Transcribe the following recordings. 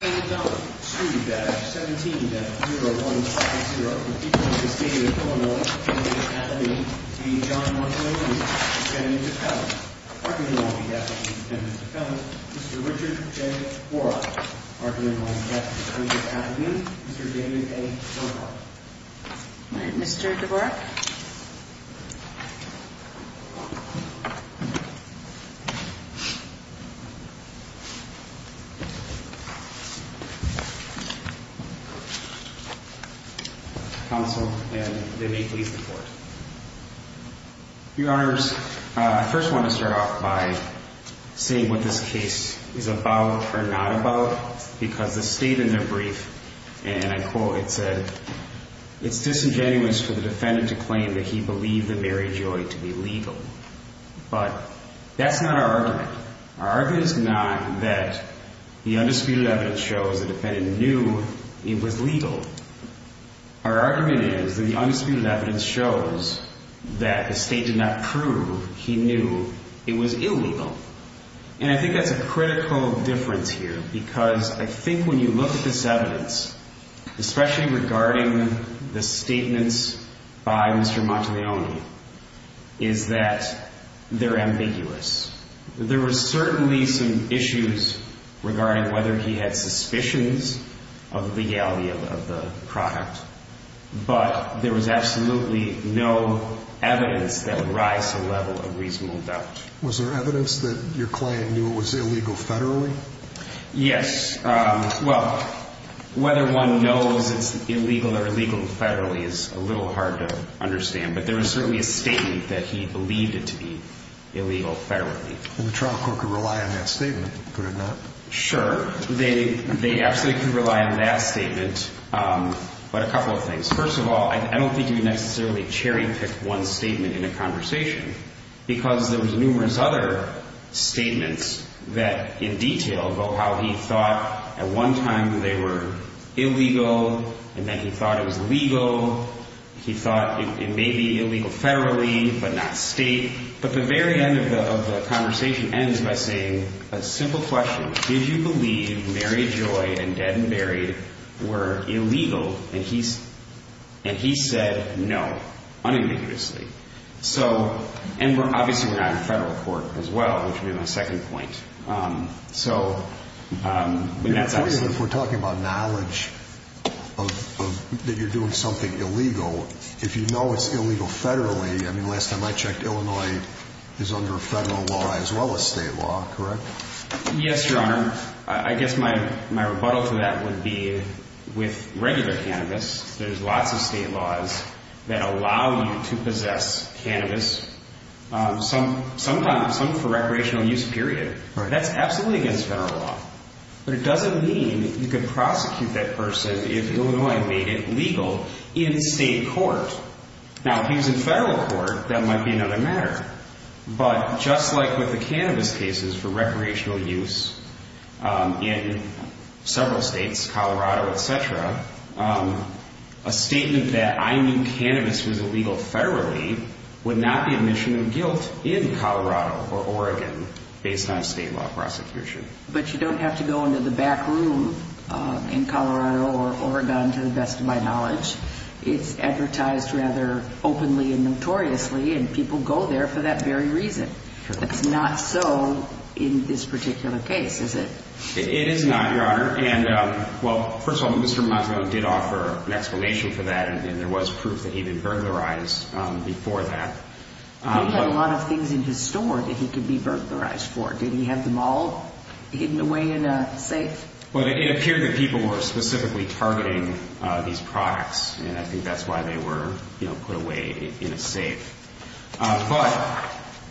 Arguing all the Ethics of Independent Defendant. Mr. Richard J. Dvorak are arguing on behalf of the Court of Appeal, Mr. Damon A. Grohbolte right Mr. Dvorak Your Honors, I first want to start off by saying what this case is about or not about because the state in their brief, and I quote, it said, it's disingenuous for the defendant to claim that he believed the very joy to be legal. But that's not our argument. Our argument is that the undisputed evidence shows that the defendant knew it was legal. Our argument is that the undisputed evidence shows that the state did not prove he knew it was illegal. And I think that's a critical difference here because I think when you look at this evidence, especially regarding the statements by Mr. Monteleone, is that they're he had suspicions of the legality of the product, but there was absolutely no evidence that would rise to the level of reasonable doubt. Was there evidence that your client knew it was illegal federally? Yes. Well, whether one knows it's illegal or illegal federally is a little hard to understand, but there was certainly a statement that he believed it to be illegal federally. And the trial court could rely on that statement, could it not? Sure. They absolutely could rely on that statement. But a couple of things. First of all, I don't think you would necessarily cherry pick one statement in a conversation because there was numerous other statements that in detail about how he thought at one time they were illegal and then he thought it was legal. He thought it may be illegal federally, but not state. But the very end of the conversation ends by saying a simple question. Did you believe Mary Joy and Dead and Buried were illegal? And he said no unambiguously. So and obviously we're not in federal court as well, which would be my second point. So if we're talking about knowledge that you're doing something illegal, if you know it's illegal, I checked, Illinois is under federal law as well as state law, correct? Yes, your honor. I guess my rebuttal to that would be with regular cannabis, there's lots of state laws that allow you to possess cannabis, sometimes for recreational use, period. That's absolutely against federal law. But it doesn't mean you could prosecute that person if Illinois made it legal in state court. Now if he was in federal court, that might be another matter. But just like with the cannabis cases for recreational use in several states, Colorado, et cetera, a statement that I knew cannabis was illegal federally would not be admission of guilt in Colorado or Oregon based on a state law prosecution. But you don't have to go into the back room in Colorado or Oregon to the best of my knowledge. It's advertised rather openly and notoriously, and people go there for that very reason. It's not so in this particular case, is it? It is not, your honor. And well, first of all, Mr. Montgomery did offer an explanation for that, and there was proof that he'd been burglarized before that. He had a lot of things in his store that he could be burglarized for. Did he have them all hidden away in a safe? Well, it appeared that people were specifically targeting these products, and I think that's why they were put away in a safe. But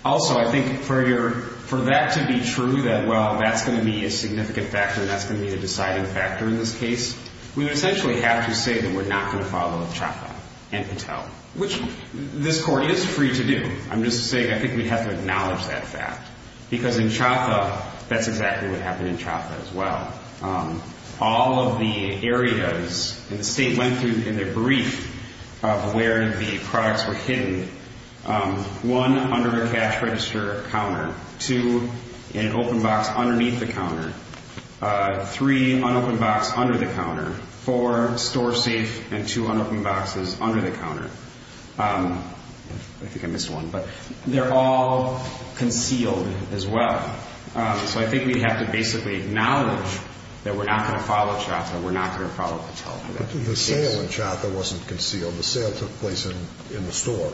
also, I think for that to be true, that well, that's going to be a significant factor, and that's going to be the deciding factor in this case, we would essentially have to say that we're not going to follow Trapa and Patel, which this court is free to do. I'm just saying I think we'd have to acknowledge that fact. Because in Trapa, that's exactly what happened in Trapa as well. All of the areas, and the state went through in their brief of where the products were hidden. One, under a cash register counter. Two, an open box underneath the counter. Three, an open box under the counter. I think I missed one, but they're all concealed as well. So I think we'd have to basically acknowledge that we're not going to follow Trapa, we're not going to follow Patel. But the sale in Trapa wasn't concealed. The sale took place in the store.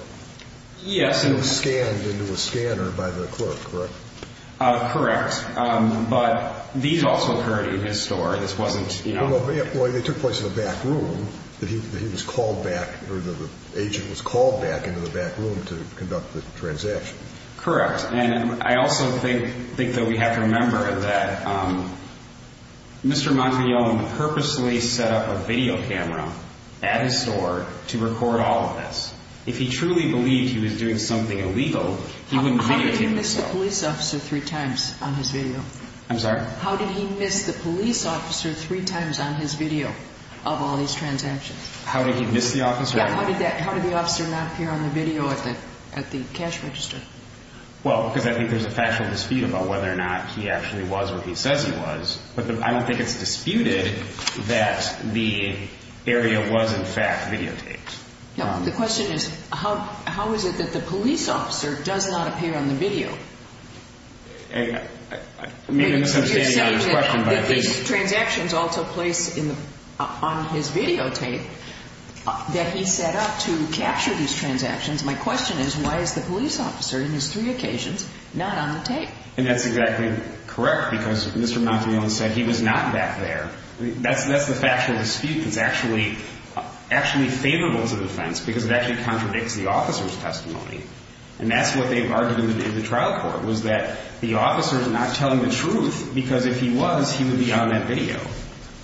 Yes. And it was scanned into a scanner by the clerk, correct? Correct. But these also occurred in his store. This wasn't, you know. Well, they took place in the back room, that he was called back, or the agent was called back into the back room to conduct the transaction. Correct. And I also think that we have to remember that Mr. Montrillon purposely set up a video camera at his store to record all of this. If he truly believed he was doing something illegal, he wouldn't videotape himself. How did he miss the police officer three times on his video? I'm sorry? How did he miss the police officer three times on his video of all these transactions? How did he miss the officer? Yeah, how did that, how did the officer not appear on the video at the cash register? Well, because I think there's a factual dispute about whether or not he actually was where he says he was. But I don't think it's disputed that the area was, in fact, videotaped. No, the question is, how is it that the police officer does not appear on the video? I mean, I guess I'm standing on a question, but I think... You're saying that these transactions also place on his videotape that he set up to capture these transactions. My question is, why is the police officer, in his three occasions, not on the tape? And that's exactly correct, because Mr. Montrillon said he was not back there. That's the factual dispute that's actually favorable to the defense, because it actually contradicts the officer's not telling the truth, because if he was, he would be on that video.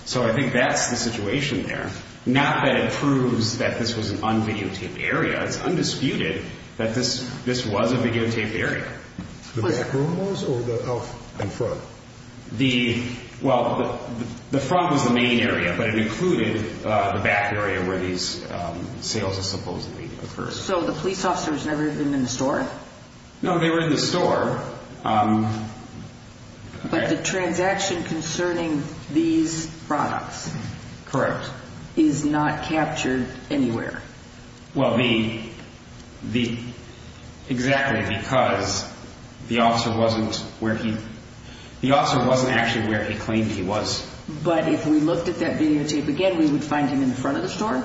So I think that's the situation there. Not that it proves that this was an un-videotaped area. It's undisputed that this was a videotaped area. The back room was, or the front? The, well, the front was the main area, but it included the back area where these sales supposedly occurred. So the police officer was never even in the store? No, they were in the store. But the transaction concerning these products... Correct. ...is not captured anywhere? Well, the, the, exactly, because the officer wasn't where he, the officer wasn't actually where he claimed he was. But if we looked at that videotape again, we would find him in the front of the store?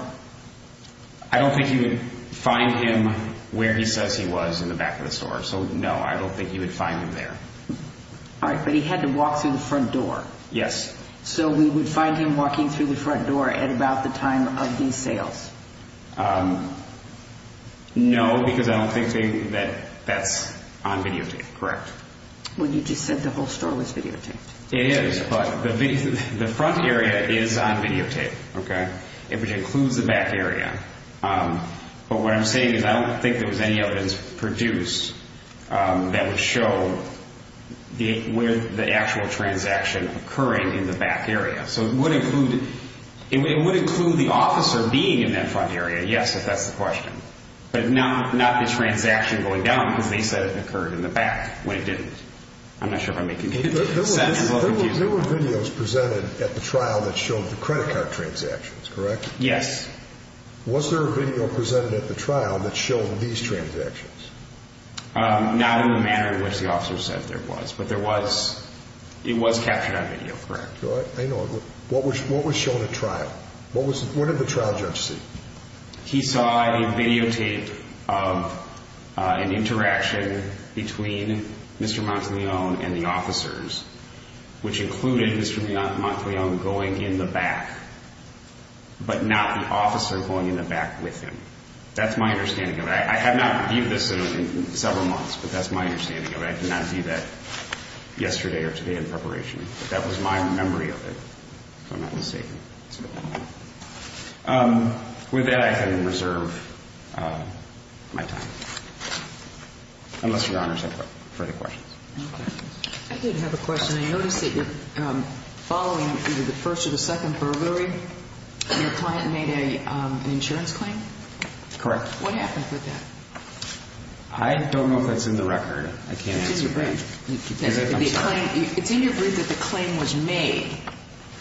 I don't think you would find him where he says he was in the back of the store. So, no, I don't think you would find him there. All right, but he had to walk through the front door? Yes. So we would find him walking through the front door at about the time of these sales? Um, no, because I don't think that that's on videotape. Correct. Well, you just said the whole store was videotaped. It is, but the front area is on videotape, okay? It includes the back area. Um, but what I'm saying is I don't think there was any evidence produced, um, that would show the, with the actual transaction occurring in the back area. So it would include, it would include the officer being in that front area, yes, if that's the question. But not, not the transaction going down, because they said it occurred in the back when it didn't. I'm not sure if I'm making sense. There were videos presented at the trial that showed the credit card transactions, correct? Yes. Was there a video presented at the trial that showed these transactions? Um, not in the manner in which the officer said there was, but there was, it was captured on video, correct. I know. What was, what was shown at trial? What was, what did the trial judge see? He saw a videotape of an interaction between Mr. Monteleone and the officers, which included Mr. Monteleone going in the back, but not the officer going in the back with him. That's my understanding of it. I have not reviewed this in several months, but that's my understanding of it. I did not view that yesterday or today in preparation. But that was my memory of it, if I'm not mistaken. Um, with that I can reserve my time, unless your honors have further questions. I did have a question. I noticed that following either the first or the second burglary, your client made an insurance claim? Correct. What happened with that? I don't know if that's in the record. I can't answer for you. It's in your brief. I'm sorry. It's in your brief that the claim was made.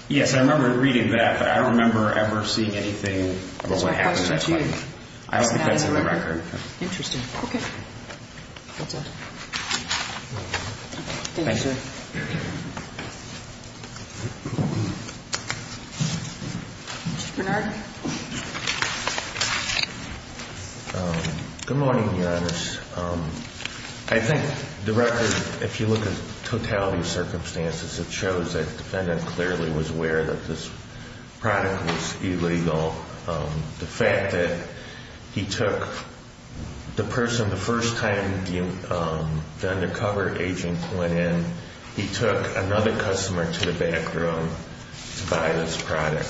Yes, I remember reading that, but I don't remember ever seeing anything about what happened. That's my question to you. I don't think that's in the record. Interesting. Okay. Thank you, sir. Um, good morning, your honors. Um, I think the record, if you look at the totality of circumstances, it shows that the defendant clearly was aware that this product was illegal. Um, the fact that he took the person, the first time the undercover agent went in, he took another customer to the back room to buy this product.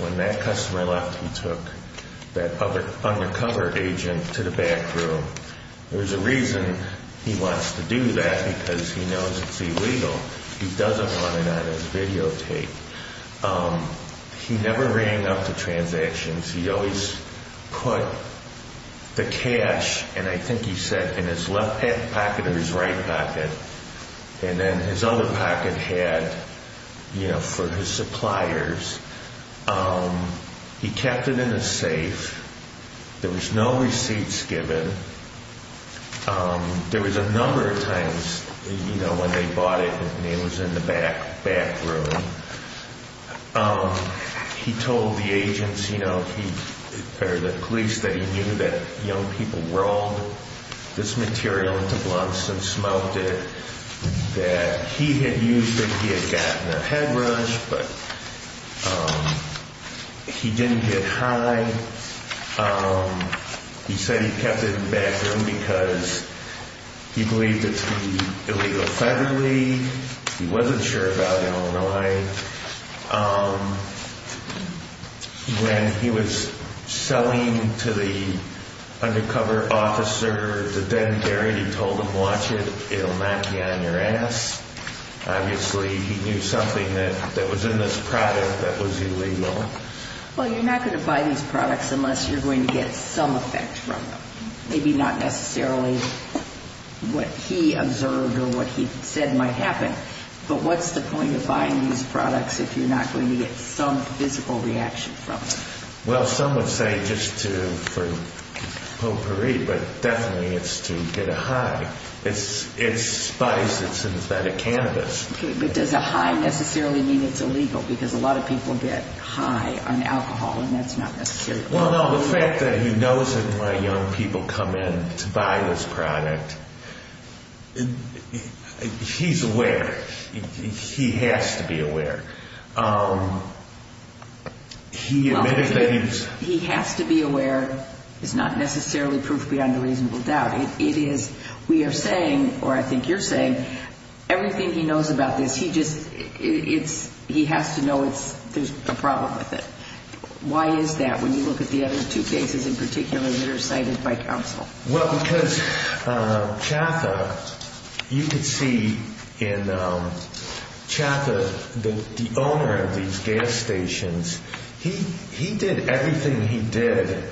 When that customer left, he took that undercover agent to the back room. There's a reason he wants to do that because he knows it's illegal. He doesn't want it on his videotape. Um, he never rang up the transactions. He always put the cash, and I think he said in his left pocket or his right pocket, and then his other pocket had, you know, for his suppliers. Um, he kept it in a safe. There was no receipts given. Um, there was a number of times, you know, when they bought it, and he was in the back, back room. Um, he told the agents, you know, he, or the police, that he knew that young people rolled this material into blunts and smoked it, that he had used it, he had gotten a head rush, but, um, he didn't get high. Um, he said he kept it in the back room because he believed it to be illegal federally. He wasn't sure about Illinois. Um, when he was selling to the undercover officer at the Denberry, he told them, watch it, it'll not be on your ass. Obviously, he knew something that was in this product that was illegal. Well, you're not going to buy these products unless you're going to get some effect from them. Maybe not necessarily what he observed or what he said might happen, but what's the point of buying these products if you're not going to get some physical reaction from them? Well, some would say just to, for potpourri, but definitely it's to get a high. It's spice, it's synthetic cannabis. Okay, but does a high necessarily mean it's illegal? Because a lot of people get high on alcohol, and that's not necessarily illegal. Well, no, the fact that he knows it when young people come in to buy this product, he's aware, he has to be aware. He admitted that he was... He has to be aware is not necessarily proof beyond a reasonable doubt. It is, we are saying, or I think you're saying, everything he knows about this, he just, it's, he has to know there's a problem with it. Why is that when you look at the other two cases in particular that are cited by counsel? Well, because Chatha, you could see in Chatha, the owner of these gas stations, he did everything he did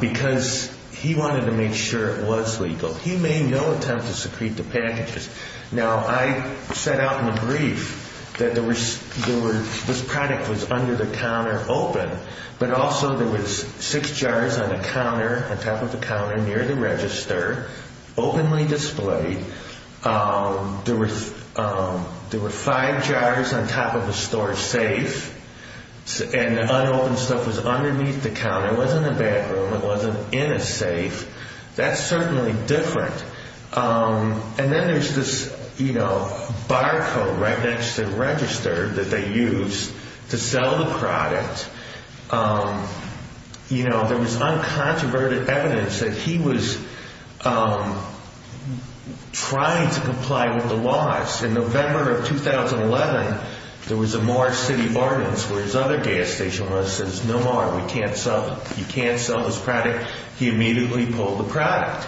because he wanted to make sure it was legal. He made no attempt to secrete the packages. Now, I set out in the brief that this product was under the counter open, but also there was six jars on a counter, on top of a counter near the register, openly displayed. There were five jars on top of a store safe, and the unopened stuff was underneath the counter. It wasn't in the bathroom. It wasn't in a safe. That's certainly different. And then there's this barcode right next to the register that they used to sell the product You know, there was uncontroverted evidence that he was trying to comply with the laws. In November of 2011, there was a Mars City ordinance where his other gas station owner says, no more, we can't sell, you can't sell this product. He immediately pulled the product.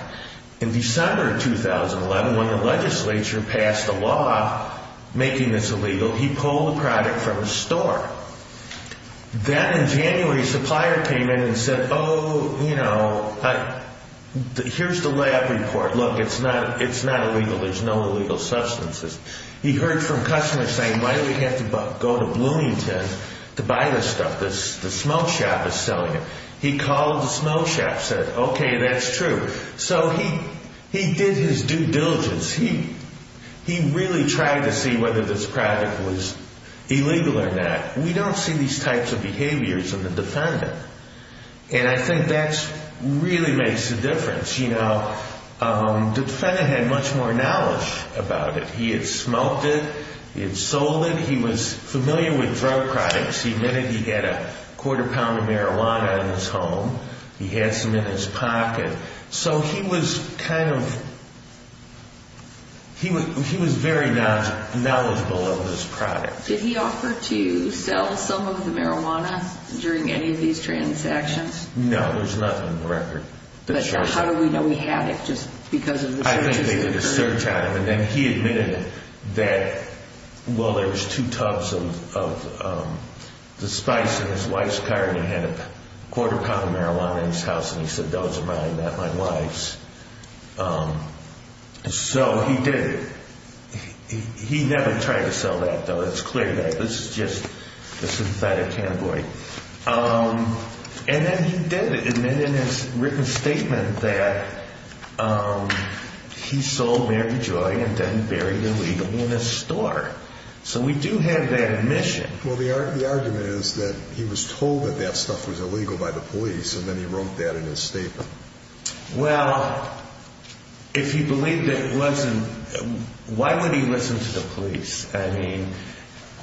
In December of 2011, when the legislature passed a law making this illegal, he pulled the product from a store. Then in January, a supplier came in and said, oh, you know, here's the lab report. Look, it's not illegal. There's no illegal substances. He heard from customers saying, why do we have to go to Bloomington to buy this stuff? The smoke shop is selling it. He called the smoke shop, said, okay, that's true. So he did his due diligence. He really tried to see whether this product was illegal or not. We don't see these types of behaviors in the defendant. And I think that really makes a difference. The defendant had much more knowledge about it. He had smoked it. He had sold it. He was familiar with drug products. He admitted he had a quarter pound of marijuana in his home. He had some in his pocket. So he was kind of, he was very knowledgeable of this product. Did he offer to sell some of the marijuana during any of these transactions? No, there's nothing on the record. But how do we know he had it just because of the searches? I think they did a search on him, and then he admitted that, well, there was two tubs of the spice in his wife's car, and he had a quarter pound of marijuana in his house, and he said, those are mine, not my wife's. So he did it. He never tried to sell that, though. It's clear that this is just a synthetic category. And then he did it, admitted in his written statement that he sold Mary Joy and then buried illegally in his store. So we do have that admission. Well, the argument is that he was told that that stuff was illegal by the police, and then he wrote that in his statement. Well, if he believed it wasn't, why would he listen to the police? I mean,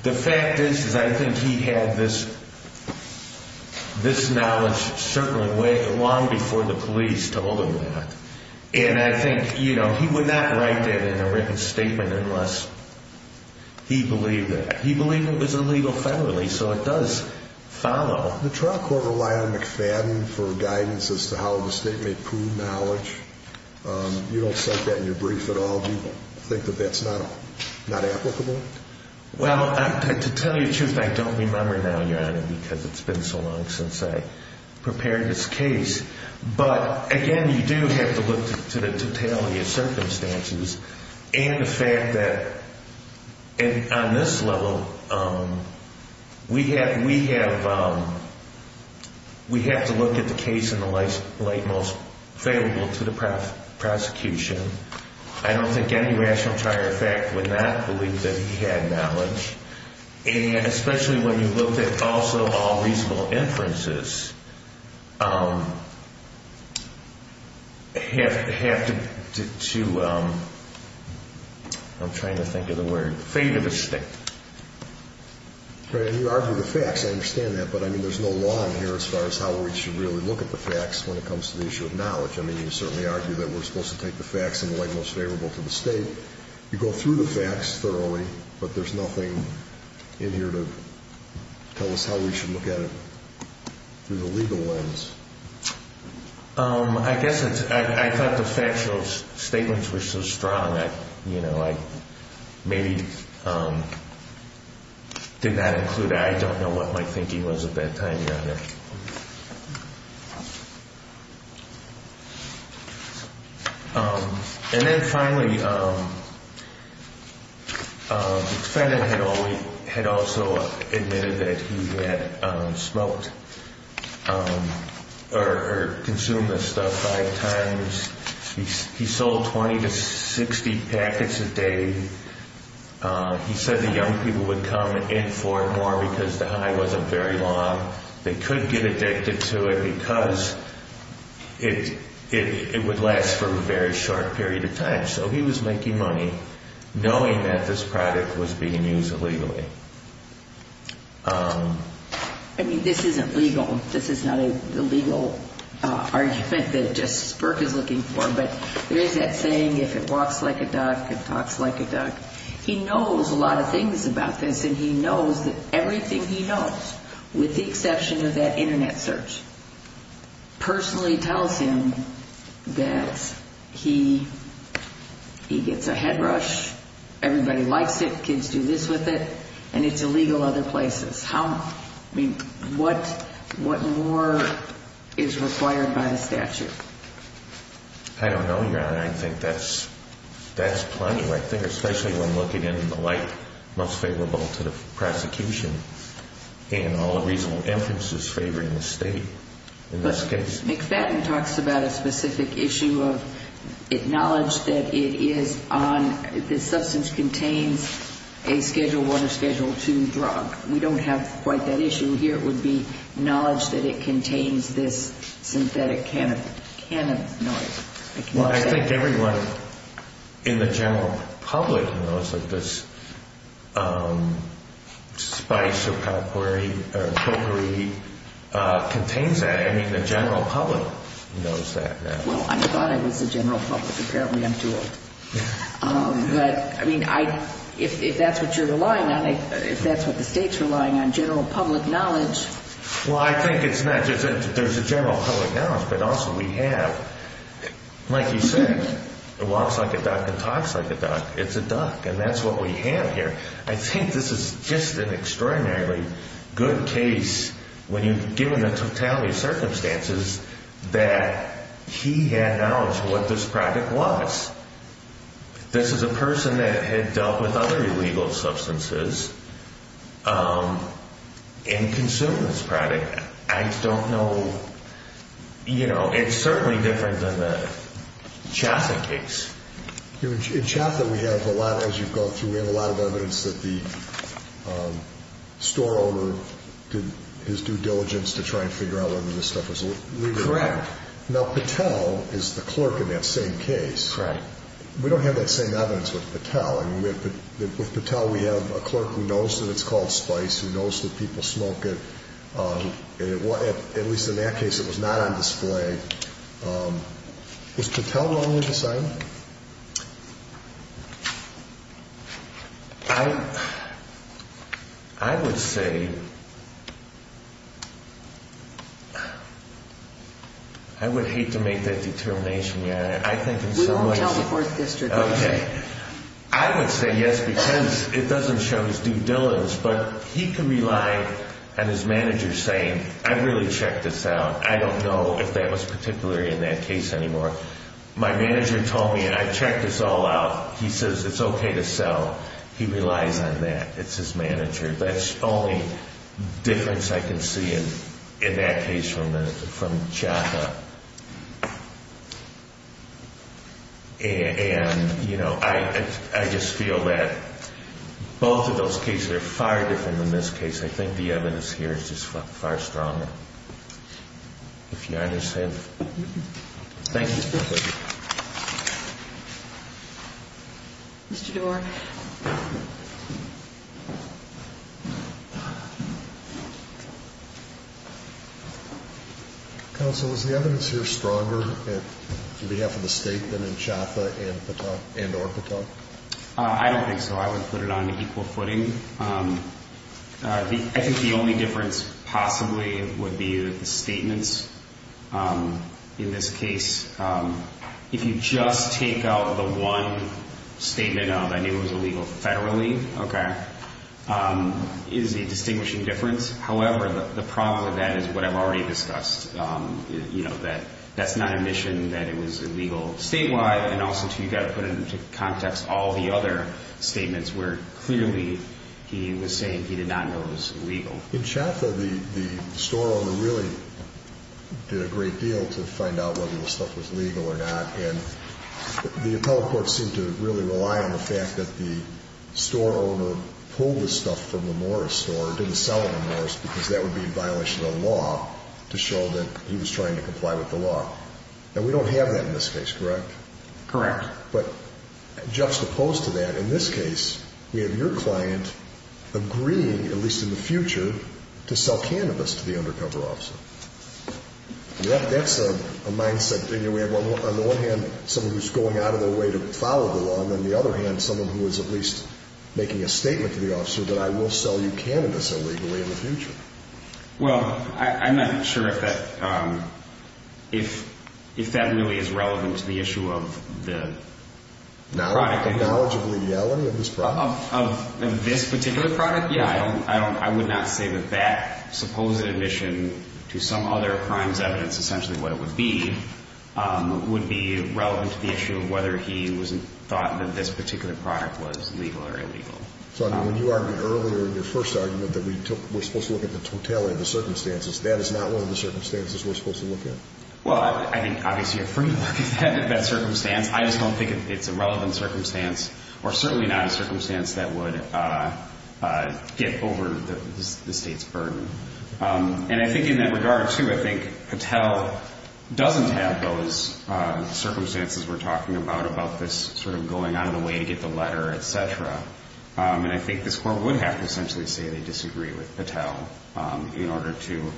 the fact is, is I think he had this knowledge certainly way long before the police told him that. And I think, you know, he would not write that in a written statement unless he believed it. He believed it was illegal federally, so it does follow. The trial court relied on McFadden for guidance as to how the state may prove knowledge. You don't cite that in your brief at all. Do you think that that's not applicable? Well, to tell you the truth, I don't remember now, Your Honor, because it's been so long since I prepared this case. But, again, you do have to look to the totality of circumstances and the fact that, on this level, we have to look at the case in the light most favorable to the prosecution. I don't think any rational trier of fact would not believe that he had knowledge, and especially when you look at also all reasonable inferences, have to, I'm trying to think of the word, favor the state. And you argue the facts. I understand that, but, I mean, there's no law in here as far as how we should really look at the facts when it comes to the issue of knowledge. I mean, you certainly argue that we're supposed to take the facts in the light most favorable to the state. You go through the facts thoroughly, but there's nothing in here to tell us how we should look at it through the legal lens. I guess I thought the factual statements were so strong, you know, I maybe did not include, I don't know what my thinking was at that time, Your Honor. And then finally, the defendant had also admitted that he had smoked or consumed this stuff five times. He sold 20 to 60 packets a day. He said the young people would come in for it more because the high wasn't very long. They couldn't get addicted to it because it would last for a very short period of time. So he was making money knowing that this product was being used illegally. I mean, this isn't legal. This is not a legal argument that just Burke is looking for, but there is that saying, if it walks like a duck, it talks like a duck. He knows a lot of things about this, and he knows that everything he knows, with the exception of that Internet search, personally tells him that he gets a head rush, everybody likes it, kids do this with it, and it's illegal other places. I mean, what more is required by the statute? I don't know, Your Honor. I think that's plenty. I think especially when looking into the light most favorable to the prosecution and all the reasonable inferences favoring the state in this case. But McFadden talks about a specific issue of knowledge that it is on, the substance contains a Schedule I or Schedule II drug. We don't have quite that issue here. It would be knowledge that it contains this synthetic cannabinoid. Well, I think everyone in the general public knows that this spice or potpourri contains that. I mean, the general public knows that. Well, I thought I was the general public. Apparently I'm too old. But, I mean, if that's what you're relying on, if that's what the state's relying on, general public knowledge. Well, I think it's not just that there's a general public knowledge, but also we have, like you said, walks like a duck and talks like a duck. It's a duck, and that's what we have here. I think this is just an extraordinarily good case when you're given the totality of circumstances that he had knowledge of what this product was. This is a person that had dealt with other illegal substances and consumed this product. I don't know, you know, it's certainly different than the Chaffin case. In Chaffin, we have a lot, as you've gone through, we have a lot of evidence that the store owner did his due diligence to try and figure out whether this stuff was illegal. Correct. Now, Patel is the clerk in that same case. We don't have that same evidence with Patel. With Patel, we have a clerk who knows that it's called spice, who knows that people smoke it. At least in that case, it was not on display. Was Patel wrong in his assignment? I would say, I would hate to make that determination. We won't tell the Fourth District. Okay. I would say yes, because it doesn't show his due diligence, but he can rely on his manager saying, I really checked this out. I don't know if that was particularly in that case anymore. My manager told me, I checked this all out. He says it's okay to sell. He relies on that. It's his manager. That's the only difference I can see in that case from Chaffin. And, you know, I just feel that both of those cases are far different than this case. I think the evidence here is just far stronger. If you understand. Thank you. Mr. Doar. Thank you. Counsel, is the evidence here stronger on behalf of the state than in Chaffin and or Patel? I don't think so. I would put it on equal footing. I think the only difference possibly would be the statements in this case. If you just take out the one statement of, I knew it was illegal federally. Okay. It is a distinguishing difference. However, the problem with that is what I've already discussed, you know, that that's not a mission, that it was illegal statewide. And also, too, you've got to put into context all the other statements where clearly he was saying he did not know it was illegal. In Chaffin, the store owner really did a great deal to find out whether the stuff was legal or not. And the appellate court seemed to really rely on the fact that the store owner pulled the stuff from the Morris store, didn't sell it in Morris because that would be in violation of the law, to show that he was trying to comply with the law. And we don't have that in this case, correct? Correct. But juxtaposed to that, in this case, we have your client agreeing, at least in the future, to sell cannabis to the undercover officer. That's a mindset. On the one hand, someone who's going out of their way to follow the law, and on the other hand, someone who is at least making a statement to the officer that I will sell you cannabis illegally in the future. Well, I'm not sure if that really is relevant to the issue of the product. The knowledge of legality of this product? Of this particular product? Yeah, I would not say that that supposed admission to some other crime's evidence, essentially what it would be, would be relevant to the issue of whether he thought that this particular product was legal or illegal. So when you argued earlier in your first argument that we're supposed to look at the totality of the circumstances, that is not one of the circumstances we're supposed to look at? Well, I think obviously you're free to look at that circumstance. I just don't think it's a relevant circumstance, or certainly not a circumstance that would get over the State's burden. And I think in that regard, too, I think Patel doesn't have those circumstances we're talking about, about this sort of going out of the way to get the letter, et cetera. And I think this Court would have to essentially say they disagree with Patel in order to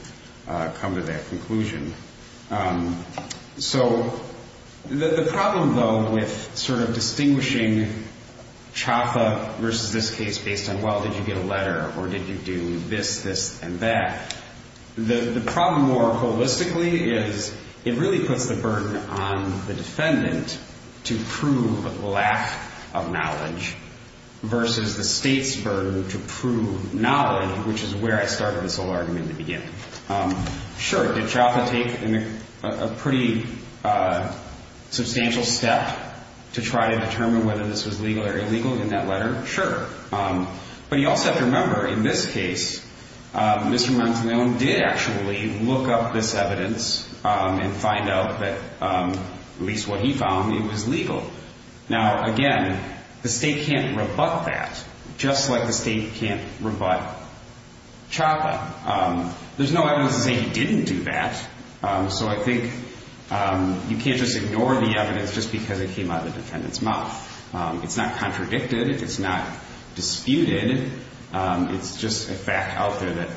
come to that conclusion. So the problem, though, with sort of distinguishing CHAFA versus this case based on, well, did you get a letter, or did you do this, this, and that? The problem more holistically is it really puts the burden on the defendant to prove lack of knowledge versus the State's burden to prove knowledge, which is where I started this whole argument to begin. Sure, did CHAFA take a pretty substantial step to try to determine whether this was legal or illegal in that letter? Sure. But you also have to remember, in this case, Mr. Marantino did actually look up this evidence and find out that, at least what he found, it was legal. Now, again, the State can't rebut that, just like the State can't rebut CHAFA. There's no evidence to say he didn't do that. So I think you can't just ignore the evidence just because it came out of the defendant's mouth. It's not contradicted. It's not disputed. It's just a fact out there that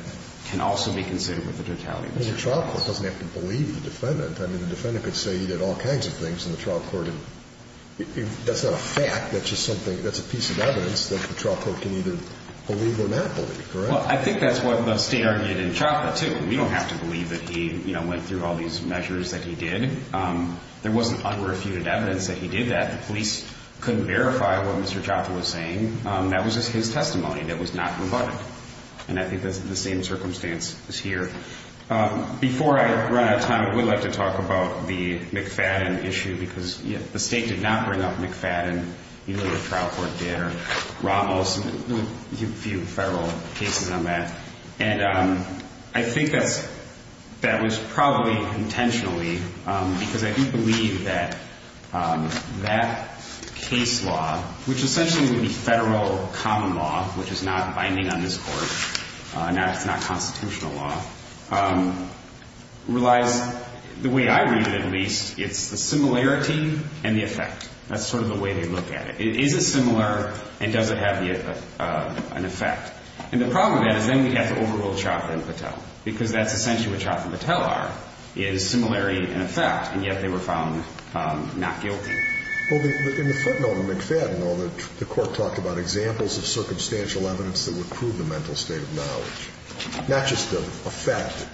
can also be considered with the totality of the circumstances. But the trial court doesn't have to believe the defendant. I mean, the defendant could say he did all kinds of things, and the trial court didn't. That's not a fact. That's just something that's a piece of evidence that the trial court can either believe or not believe, correct? Well, I think that's what the State argued in CHAFA, too. We don't have to believe that he went through all these measures that he did. There wasn't unrefuted evidence that he did that. The police couldn't verify what Mr. CHAFA was saying. That was just his testimony that was not rebutted. And I think that's the same circumstance as here. Before I run out of time, I would like to talk about the McFadden issue because the State did not bring up McFadden. Either the trial court did or Ramos. A few federal cases on that. And I think that was probably intentionally because I do believe that that case law, which essentially would be federal common law, which is not binding on this Court, it's not constitutional law, relies, the way I read it at least, it's the similarity and the effect. That's sort of the way they look at it. Is it similar and does it have an effect? And the problem with that is then we'd have to overrule CHAFA and Patel because that's essentially what CHAFA and Patel are, is similarity and effect, and yet they were found not guilty. Well, in the footnote of McFadden, the Court talked about examples of circumstantial evidence that would prove the mental state of knowledge. Not just the effect,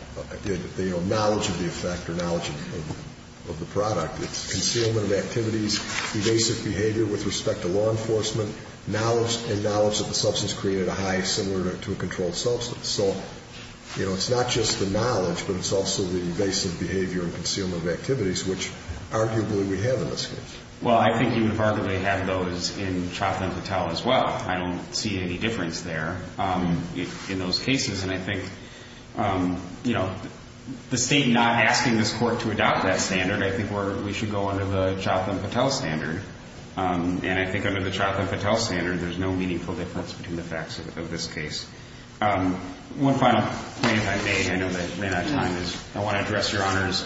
the knowledge of the effect or knowledge of the product. It's concealment of activities, evasive behavior with respect to law enforcement, and knowledge that the substance created a high similar to a controlled substance. So it's not just the knowledge, but it's also the evasive behavior and concealment of activities, which arguably we have in this case. Well, I think you would arguably have those in CHAFA and Patel as well. I don't see any difference there in those cases, and I think the State not asking this Court to adopt that standard, I think we should go under the CHAFA and Patel standard, and I think under the CHAFA and Patel standard, there's no meaningful difference between the facts of this case. One final point if I may, I know that I ran out of time, is I want to address Your Honor's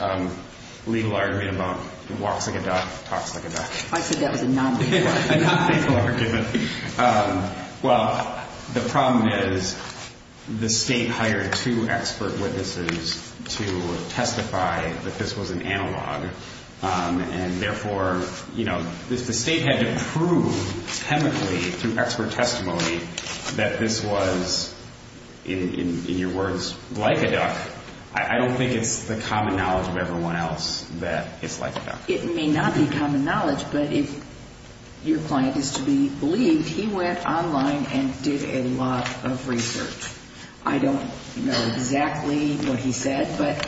legal argument about walks like a duck, talks like a duck. I said that was a non-legal argument. A non-legal argument. Well, the problem is the State hired two expert witnesses to testify that this was an analog, and therefore, you know, the State had to prove chemically through expert testimony I don't think it's the common knowledge of everyone else that it's like a duck. It may not be common knowledge, but if your client is to be believed, he went online and did a lot of research. I don't know exactly what he said, but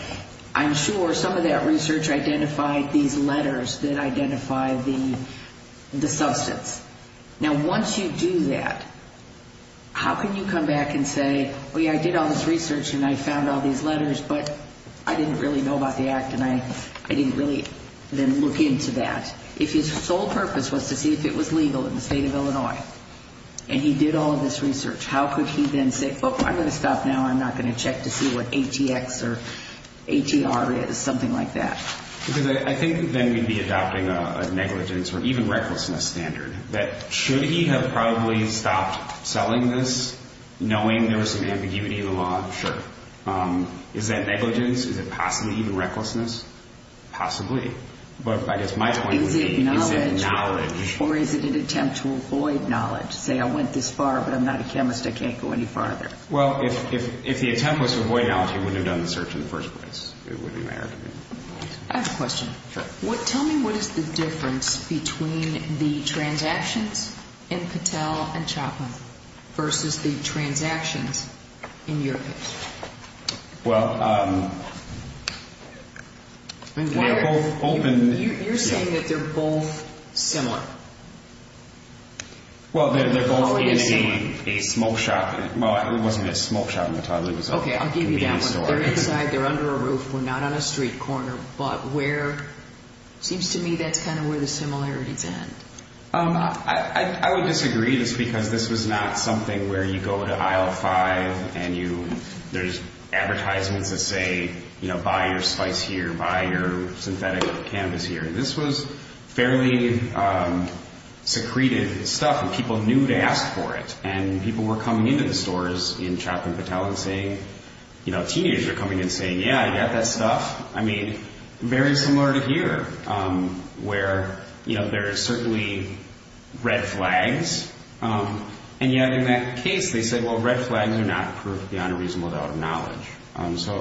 I'm sure some of that research identified these letters that identify the substance. Now, once you do that, how can you come back and say, well, yeah, I did all this research, and I found all these letters, but I didn't really know about the act, and I didn't really then look into that. If his sole purpose was to see if it was legal in the State of Illinois, and he did all of this research, how could he then say, well, I'm going to stop now, I'm not going to check to see what ATX or ATR is, something like that. Because I think then we'd be adopting a negligence or even recklessness standard, that should he have probably stopped selling this knowing there was some ambiguity in the law? Sure. Is that negligence? Is it possibly even recklessness? Possibly. But I guess my point would be, is it knowledge? Or is it an attempt to avoid knowledge? Say I went this far, but I'm not a chemist, I can't go any farther. Well, if the attempt was to avoid knowledge, he wouldn't have done the search in the first place. It wouldn't matter to me. I have a question. Sure. Tell me what is the difference between the transactions in Patel and Chapman versus the transactions in your case? Well, they're both open. You're saying that they're both similar. Well, they're both in a smoke shop. Well, it wasn't a smoke shop at the time. Okay, I'll give you that one. They're inside, they're under a roof, we're not on a street corner. Seems to me that's kind of where the similarities end. I would disagree just because this was not something where you go to aisle 5 and there's advertisements that say, you know, buy your spice here, buy your synthetic cannabis here. This was fairly secreted stuff, and people knew to ask for it. And people were coming into the stores in Chapman Patel and saying, you know, teenagers were coming and saying, yeah, I got that stuff. I mean, very similar to here where, you know, there are certainly red flags. And yet in that case, they said, well, red flags are not proof beyond a reasonable doubt of knowledge.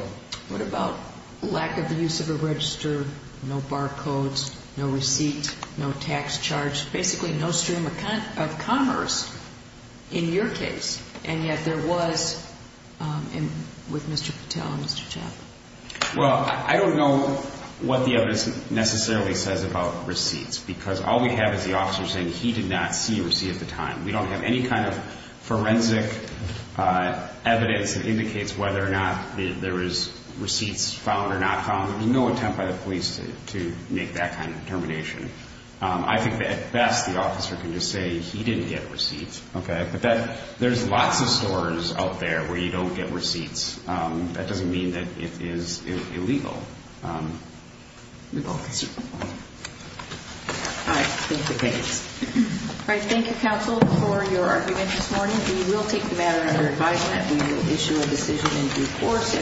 What about lack of the use of a register, no barcodes, no receipt, no tax charge, basically no stream of commerce in your case? And yet there was with Mr. Patel and Mr. Chapman. Well, I don't know what the evidence necessarily says about receipts because all we have is the officer saying he did not see a receipt at the time. We don't have any kind of forensic evidence that indicates whether or not there is receipts found or not found. There was no attempt by the police to make that kind of determination. I think that at best the officer can just say he didn't get receipts, okay? But there's lots of stores out there where you don't get receipts. That doesn't mean that it is illegal. All right. Thank you, counsel, for your argument this morning. We will take the matter under advisement. We will issue a decision in due course.